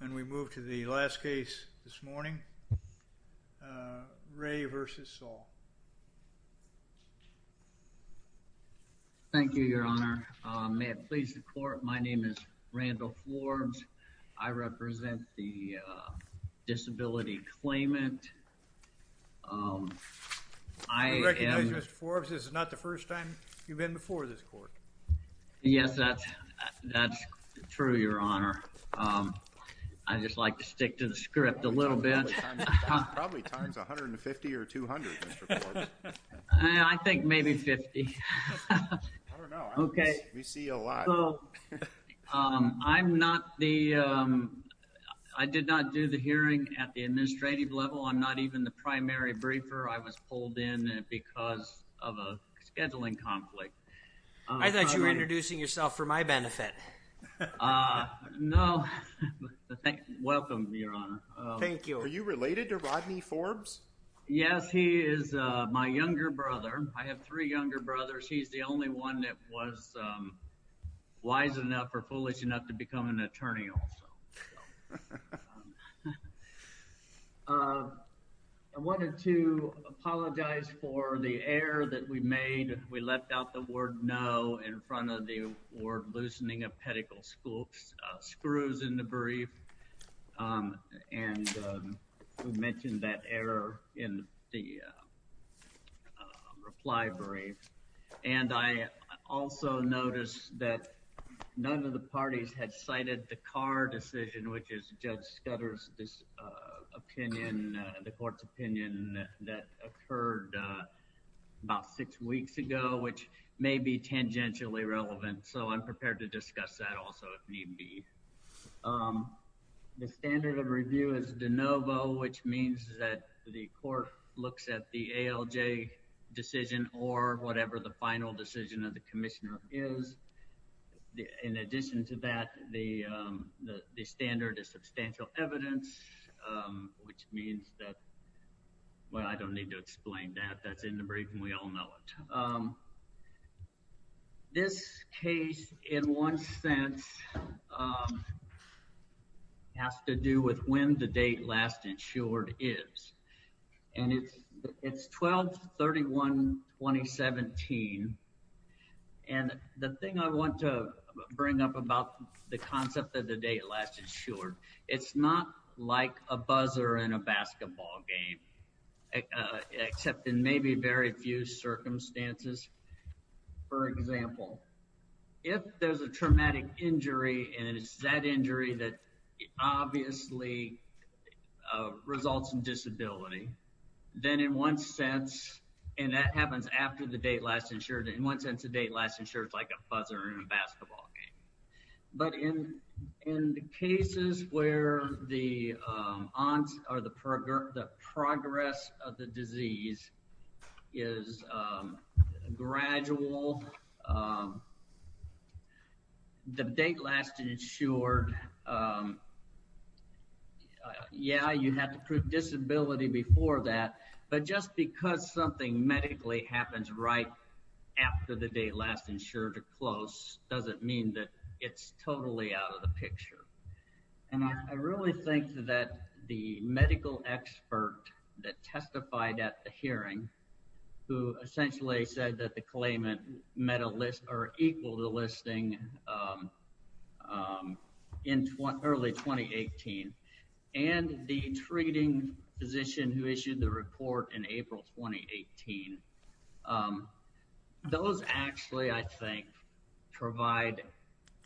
And we move to the last case this morning, Ray v. Saul. Thank you, your honor. May it please the court, my name is Randall Forbes. I represent the disability claimant. I recognize you, Mr. Forbes, this is not the first time you've been before this court. Yes, that's true, your honor. I just like to stick to the script a little bit. Probably times 150 or 200, Mr. Forbes. I think maybe 50. I don't know. Okay. We see a lot. I'm not the, I did not do the hearing at the administrative level. I'm not even the primary briefer. I was pulled in because of a scheduling conflict. I thought you were introducing yourself for my benefit. No, welcome, your honor. Thank you. Are you related to Rodney Forbes? Yes, he is my younger brother. I have three younger brothers. He's the only one that was wise enough or foolish enough to become an attorney also. I wanted to apologize for the error that we made. We left out the word no in front of the word loosening of pedicle screws in the brief. And we mentioned that error in the reply brief. And I also noticed that none of the parties had cited the Carr decision, which is Judge Scudder's opinion, the court's opinion, that occurred about six weeks ago, which may be tangentially relevant. So I'm prepared to discuss that also if need be. The standard of review is de novo, which means that the court looks at the ALJ decision or whatever the final decision of the commissioner is. In addition to that, the standard is substantial evidence, which means that, well, I don't need to explain that. That's in the brief and we all know it. This case in one sense has to do with when the date last insured is. And it's 12-31-2017. And the thing I want to bring up about the concept of the date last insured, it's not like a buzzer in a basketball game, except in maybe very few circumstances. For example, if there's a traumatic injury, and it's that injury that obviously results in disability, then in one sense, and that happens after the date last insured, in one sense the date last insured is like a buzzer in a basketball game. But in the cases where the progress of the disease is gradual, the date last insured, yeah, you have to prove disability before that. But just because something medically happens right after the date last insured or close, doesn't mean that it's totally out of the picture. And I really think that the medical expert that testified at the hearing who essentially said that the claimant met a list or equal the listing in early 2018 and the treating physician who issued the report in April 2018, those actually, I think, provide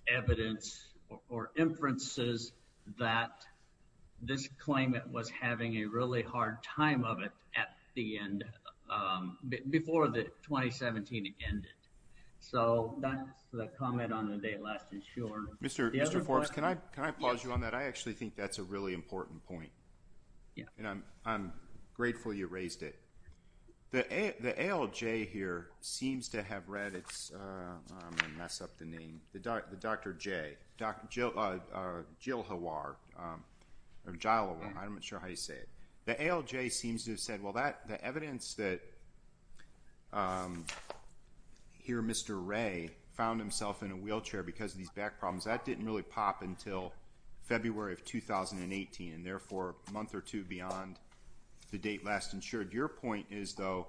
evidence or inferences that this claimant was having a really hard time of it at the end, before the 2017 ended. So that's the comment on the date last insured. Mr. Forbes, can I pause you on that? I actually think that's a really important point, and I'm grateful you raised it. The ALJ here seems to have read its, I'm going to mess up the name, the Dr. J, Jilhawar, or Jilawar, I'm not sure how you say it. The ALJ seems to have said, well, the evidence that here Mr. Ray found himself in a wheelchair because of these back problems, that didn't really pop until February of 2018, and therefore a month or two beyond the date last insured. Your point is, though,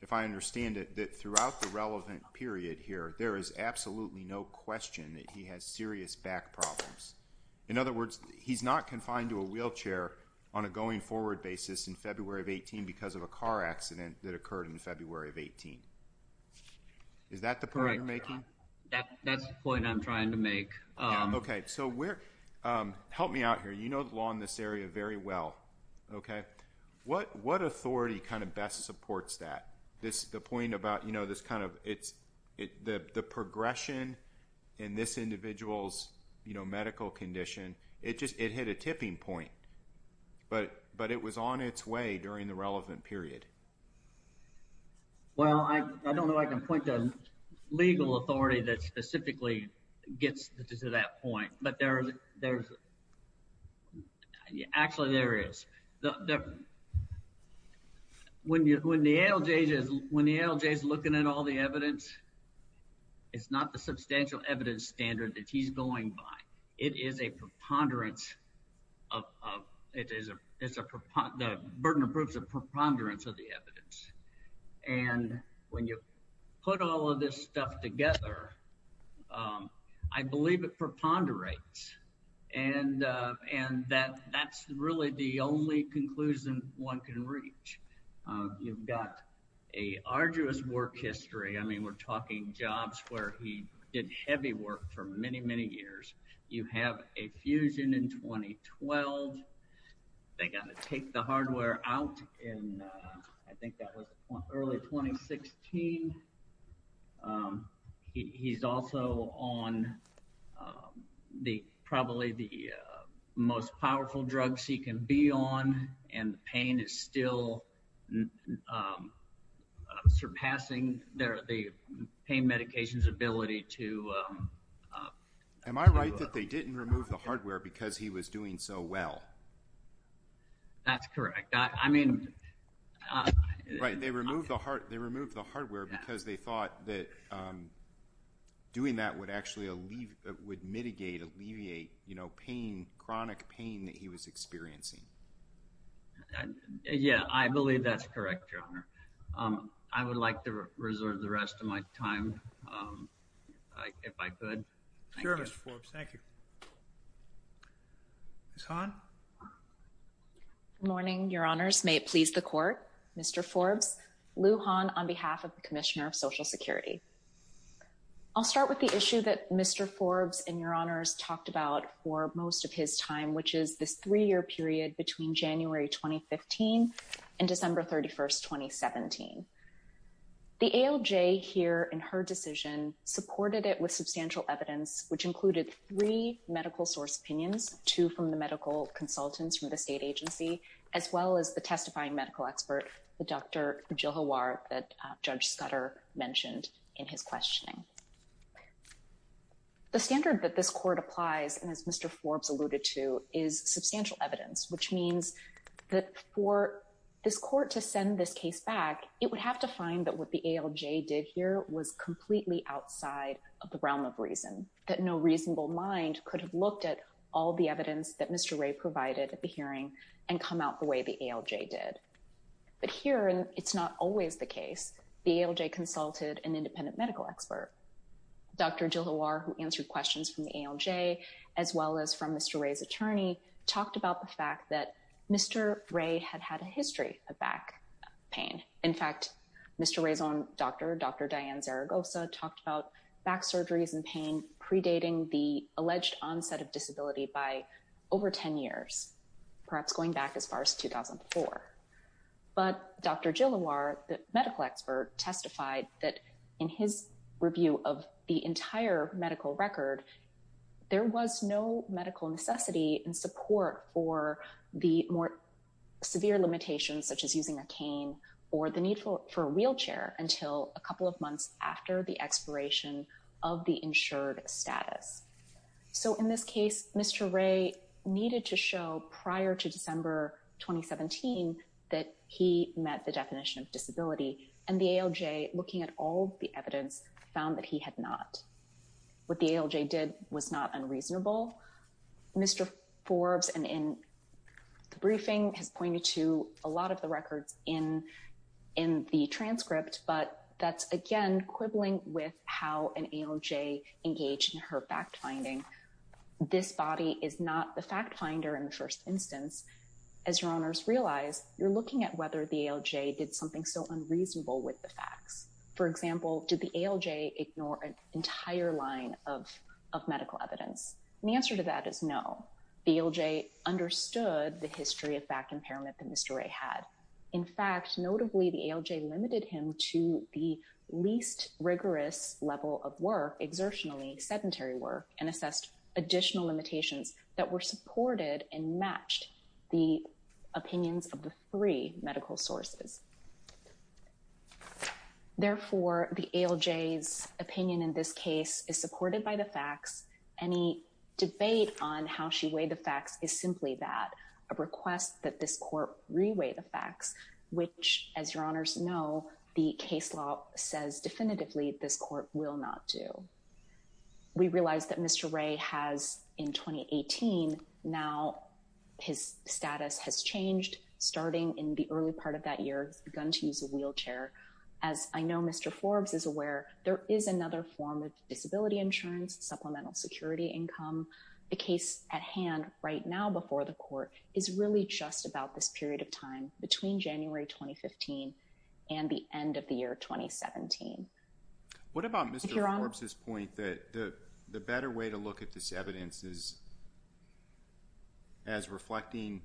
if I understand it, that throughout the relevant period here, there is absolutely no question that he has serious back problems. In other words, he's not confined to a wheelchair on a going forward basis in February of 2018 because of a car accident that occurred in February of 2018. Is that the point you're making? That's the point I'm trying to make. Help me out here. You know the law in this area very well. What authority best supports that? The point about the progression in this individual's medical condition, it hit a tipping point, but it was on its way during the relevant period. Well, I don't know if I can point to a legal authority that specifically gets to that point, but actually there is. When the ALJ is looking at all the evidence, it's not the substantial evidence standard that he's going by. It is a preponderance. The burden of proof is a preponderance of the evidence. And when you put all of this stuff together, I believe it preponderates. And that's really the only conclusion one can reach. You've got an arduous work history. I mean, we're talking jobs where he did heavy work for many, many years. You have a fusion in 2012. They got to take the hardware out in, I think that was early 2016. He's also on probably the most powerful drugs he can be on, and the pain is still surpassing the pain medication's ability to... Am I right that they didn't remove the hardware because he was doing so well? That's correct. Right. They removed the hardware because they thought that doing that would actually mitigate, alleviate pain, chronic pain that he was experiencing. Yeah, I believe that's correct, Your Honor. I would like to reserve the rest of my time if I could. Sure, Mr. Forbes. Thank you. Ms. Hahn? Good morning, Your Honors. May it please the Court. Mr. Forbes, Lou Hahn on behalf of the Commissioner of Social Security. I'll start with the issue that Mr. Forbes and Your Honors talked about for most of his time, which is this three-year period between January 2015 and December 31, 2017. The ALJ here in her decision supported it with substantial evidence, which included three medical source opinions, two from the medical consultants from the state agency, as well as the testifying medical expert, the Dr. Jilhawar that Judge Scudder mentioned in his questioning. The standard that this Court applies, and as Mr. Forbes alluded to, is substantial evidence, which means that for this Court to send this case back, it would have to find that what the ALJ did here was completely outside of the realm of reason, that no reasonable mind could have looked at all the evidence that Mr. But here, and it's not always the case, the ALJ consulted an independent medical expert. Dr. Jilhawar, who answered questions from the ALJ, as well as from Mr. Ray's attorney, talked about the fact that Mr. Ray had had a history of back pain. In fact, Mr. Ray's own doctor, Dr. Diane Zaragoza, talked about back surgeries and pain predating the alleged onset of disability by over 10 years, perhaps going back as far as 2004. But Dr. Jilhawar, the medical expert, testified that in his review of the entire medical record, there was no medical necessity and support for the more severe limitations, such as using a cane or the need for a wheelchair, until a couple of months after the expiration of the insured status. So in this case, Mr. Ray needed to show prior to December 2017 that he met the definition of disability, and the ALJ, looking at all the evidence, found that he had not. What the ALJ did was not unreasonable. Mr. Forbes, in the briefing, has pointed to a lot of the records in the transcript, but that's, again, quibbling with how an ALJ engaged in her fact-finding. This body is not the fact-finder in the first instance. As your owners realize, you're looking at whether the ALJ did something so unreasonable with the facts. For example, did the ALJ ignore an entire line of medical evidence? And the answer to that is no. The ALJ understood the history of back impairment that Mr. Ray had. In fact, notably, the ALJ limited him to the least rigorous level of work, exertionally sedentary work, and assessed additional limitations that were supported and matched the opinions of the three medical sources. Therefore, the ALJ's opinion in this case is supported by the facts. Any debate on how she weighed the facts is simply that, a request that this court reweigh the facts, which, as your owners know, the case law says definitively this court will not do. We realize that Mr. Ray has, in 2018, now his status has changed. Starting in the early part of that year, he's begun to use a wheelchair. As I know Mr. Forbes is aware, there is another form of disability insurance, supplemental security income. The case at hand right now before the court is really just about this period of time between January 2015 and the end of the year 2017. What about Mr. Forbes's point that the better way to look at this evidence is as reflecting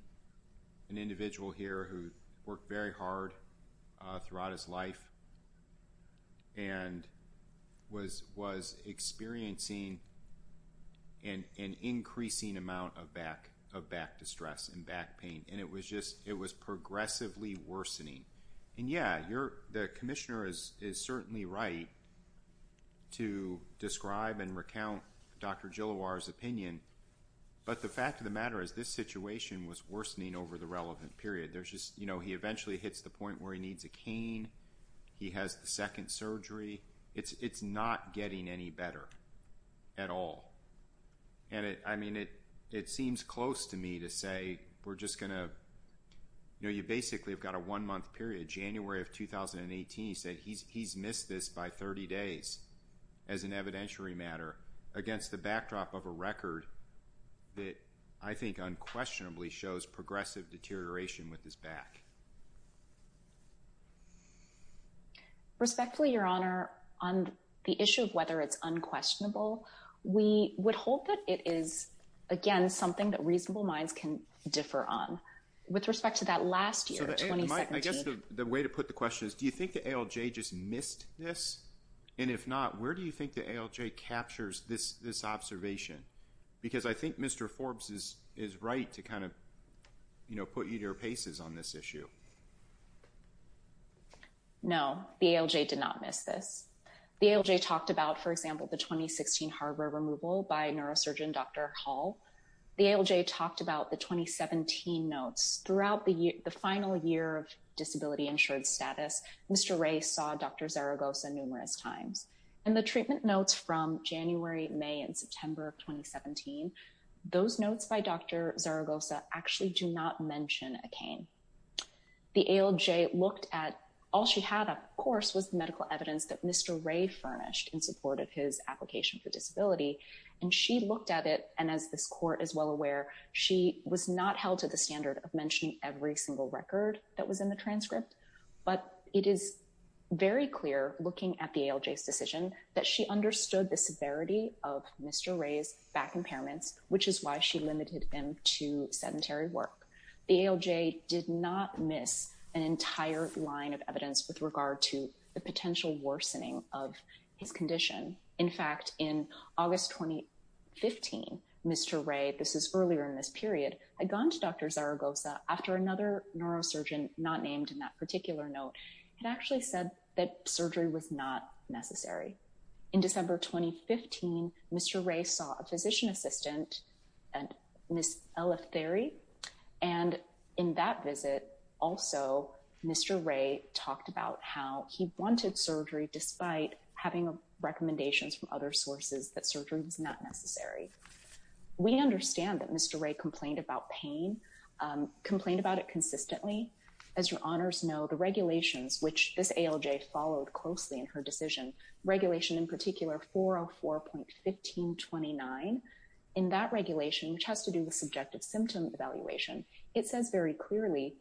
an individual here who worked very hard throughout his life and was experiencing an increasing amount of back distress and back pain. It was progressively worsening. Yeah, the commissioner is certainly right to describe and recount Dr. Gilloir's opinion, but the fact of the matter is this situation was worsening over the relevant period. He eventually hits the point where he needs a cane. He has the second surgery. It's not getting any better at all. It seems close to me to say we're just going to, you know, you basically have got a one-month period. January of 2018, he said he's missed this by 30 days as an evidentiary matter against the backdrop of a record that I think unquestionably shows progressive deterioration with his back. Respectfully, Your Honor, on the issue of whether it's unquestionable, we would hold that it is, again, something that reasonable minds can differ on. With respect to that last year, 2017. I guess the way to put the question is do you think the ALJ just missed this? And if not, where do you think the ALJ captures this observation? Because I think Mr. Forbes is right to kind of, you know, put you at your paces on this issue. No, the ALJ did not miss this. The ALJ talked about, for example, the 2016 hardware removal by neurosurgeon Dr. Hall. The ALJ talked about the 2017 notes. Throughout the final year of disability insurance status, Mr. Ray saw Dr. Zaragoza numerous times. And the treatment notes from January, May, and September of 2017, those notes by Dr. Zaragoza actually do not mention a cane. The ALJ looked at all she had, of course, was medical evidence that Mr. Ray furnished in support of his application for disability. And she looked at it. And as this court is well aware, she was not held to the standard of mentioning every single record that was in the transcript. But it is very clear, looking at the ALJ's decision, that she understood the severity of Mr. Ray's back impairments, which is why she limited them to sedentary work. The ALJ did not miss an entire line of evidence with regard to the potential worsening of his condition. In fact, in August 2015, Mr. Ray, this is earlier in this period, had gone to Dr. Zaragoza after another neurosurgeon not named in that particular note had actually said that surgery was not necessary. In December 2015, Mr. Ray saw a physician assistant, Ms. Eleftheri. And in that visit, also, Mr. Ray talked about how he wanted surgery, despite having recommendations from other sources that surgery was not necessary. We understand that Mr. Ray complained about pain, complained about it consistently. As your honors know, the regulations which this ALJ followed closely in her decision, regulation in particular 404.1529, in that regulation, which has to do with subjective symptom evaluation, it says very clearly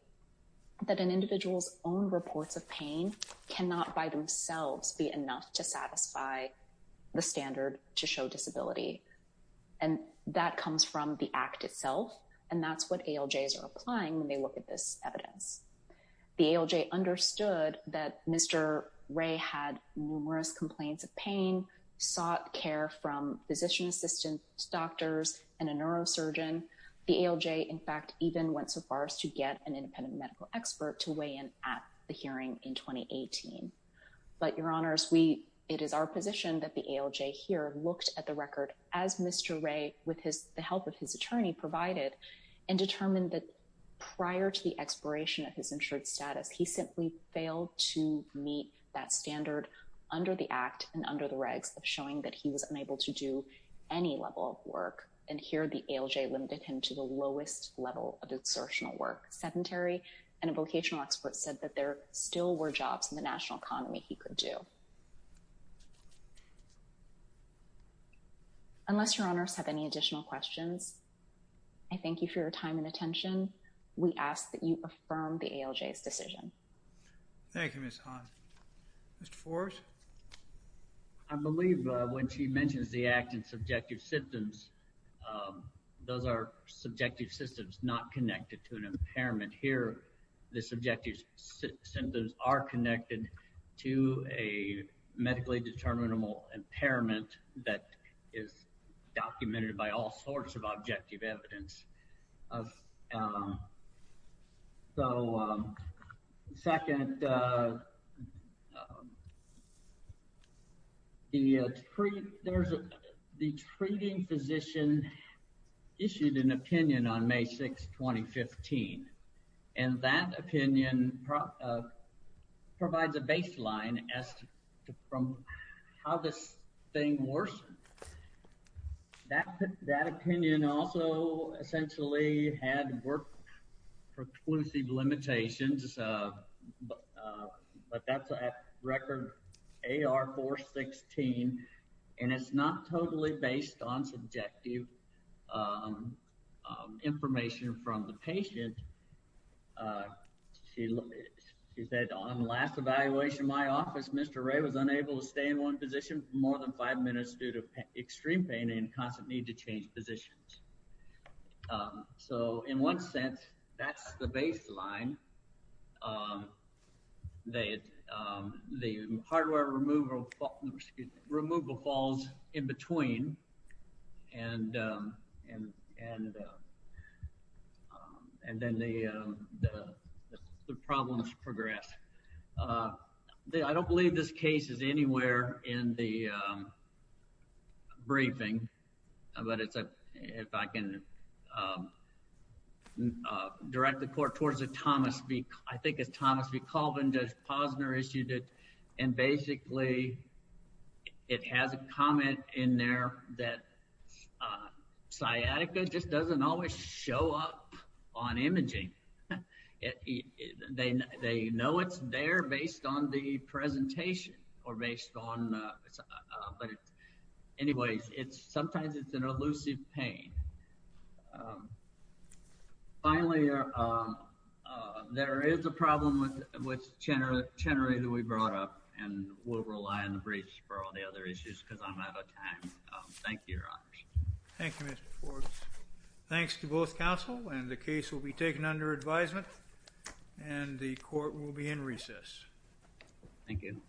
that an individual's own reports of pain cannot by themselves be enough to satisfy the standard to show disability. And that comes from the act itself, and that's what ALJs are applying when they look at this evidence. The ALJ understood that Mr. Ray had numerous complaints of pain, sought care from physician assistants, doctors, and a neurosurgeon. The ALJ, in fact, even went so far as to get an independent medical expert to weigh in at the hearing in 2018. But your honors, it is our position that the ALJ here looked at the record, as Mr. Ray, with the help of his attorney, provided, and determined that prior to the expiration of his insured status, he simply failed to meet that standard under the act and under the regs of showing that he was unable to do any level of work. And here, the ALJ limited him to the lowest level of exertional work, sedentary. And a vocational expert said that there still were jobs in the national economy he could do. Unless your honors have any additional questions, I thank you for your time and attention. We ask that you affirm the ALJ's decision. Thank you, Ms. Hahn. Mr. Forrest? I believe when she mentions the act and subjective symptoms, those are subjective symptoms not connected to an impairment. Here, the subjective symptoms are connected to a medically determinable impairment that is documented by all sorts of objective evidence. So, second, the treating physician issued an opinion on May 6, 2015. And that opinion provides a baseline as to how this thing worsened. That opinion also essentially had work-preclusive limitations. But that's a record AR-416. And it's not totally based on subjective information from the patient. She said, on the last evaluation in my office, Mr. Ray was unable to stay in one position for more than five minutes due to extreme pain and constant need to change positions. So, in one sense, that's the baseline. The hardware removal falls in between. And then the problems progress. I don't believe this case is anywhere in the briefing. But if I can direct the court towards Thomas B. I think it's Thomas B. Colvin. Judge Posner issued it. And basically, it has a comment in there that sciatica just doesn't always show up on imaging. They know it's there based on the presentation or based on… Anyways, sometimes it's an elusive pain. Finally, there is a problem with Chenery that we brought up. And we'll rely on the briefs for all the other issues because I'm out of time. Thank you, Your Honor. Thank you, Mr. Forbes. Thanks to both counsel. And the case will be taken under advisement. And the court will be in recess. Thank you.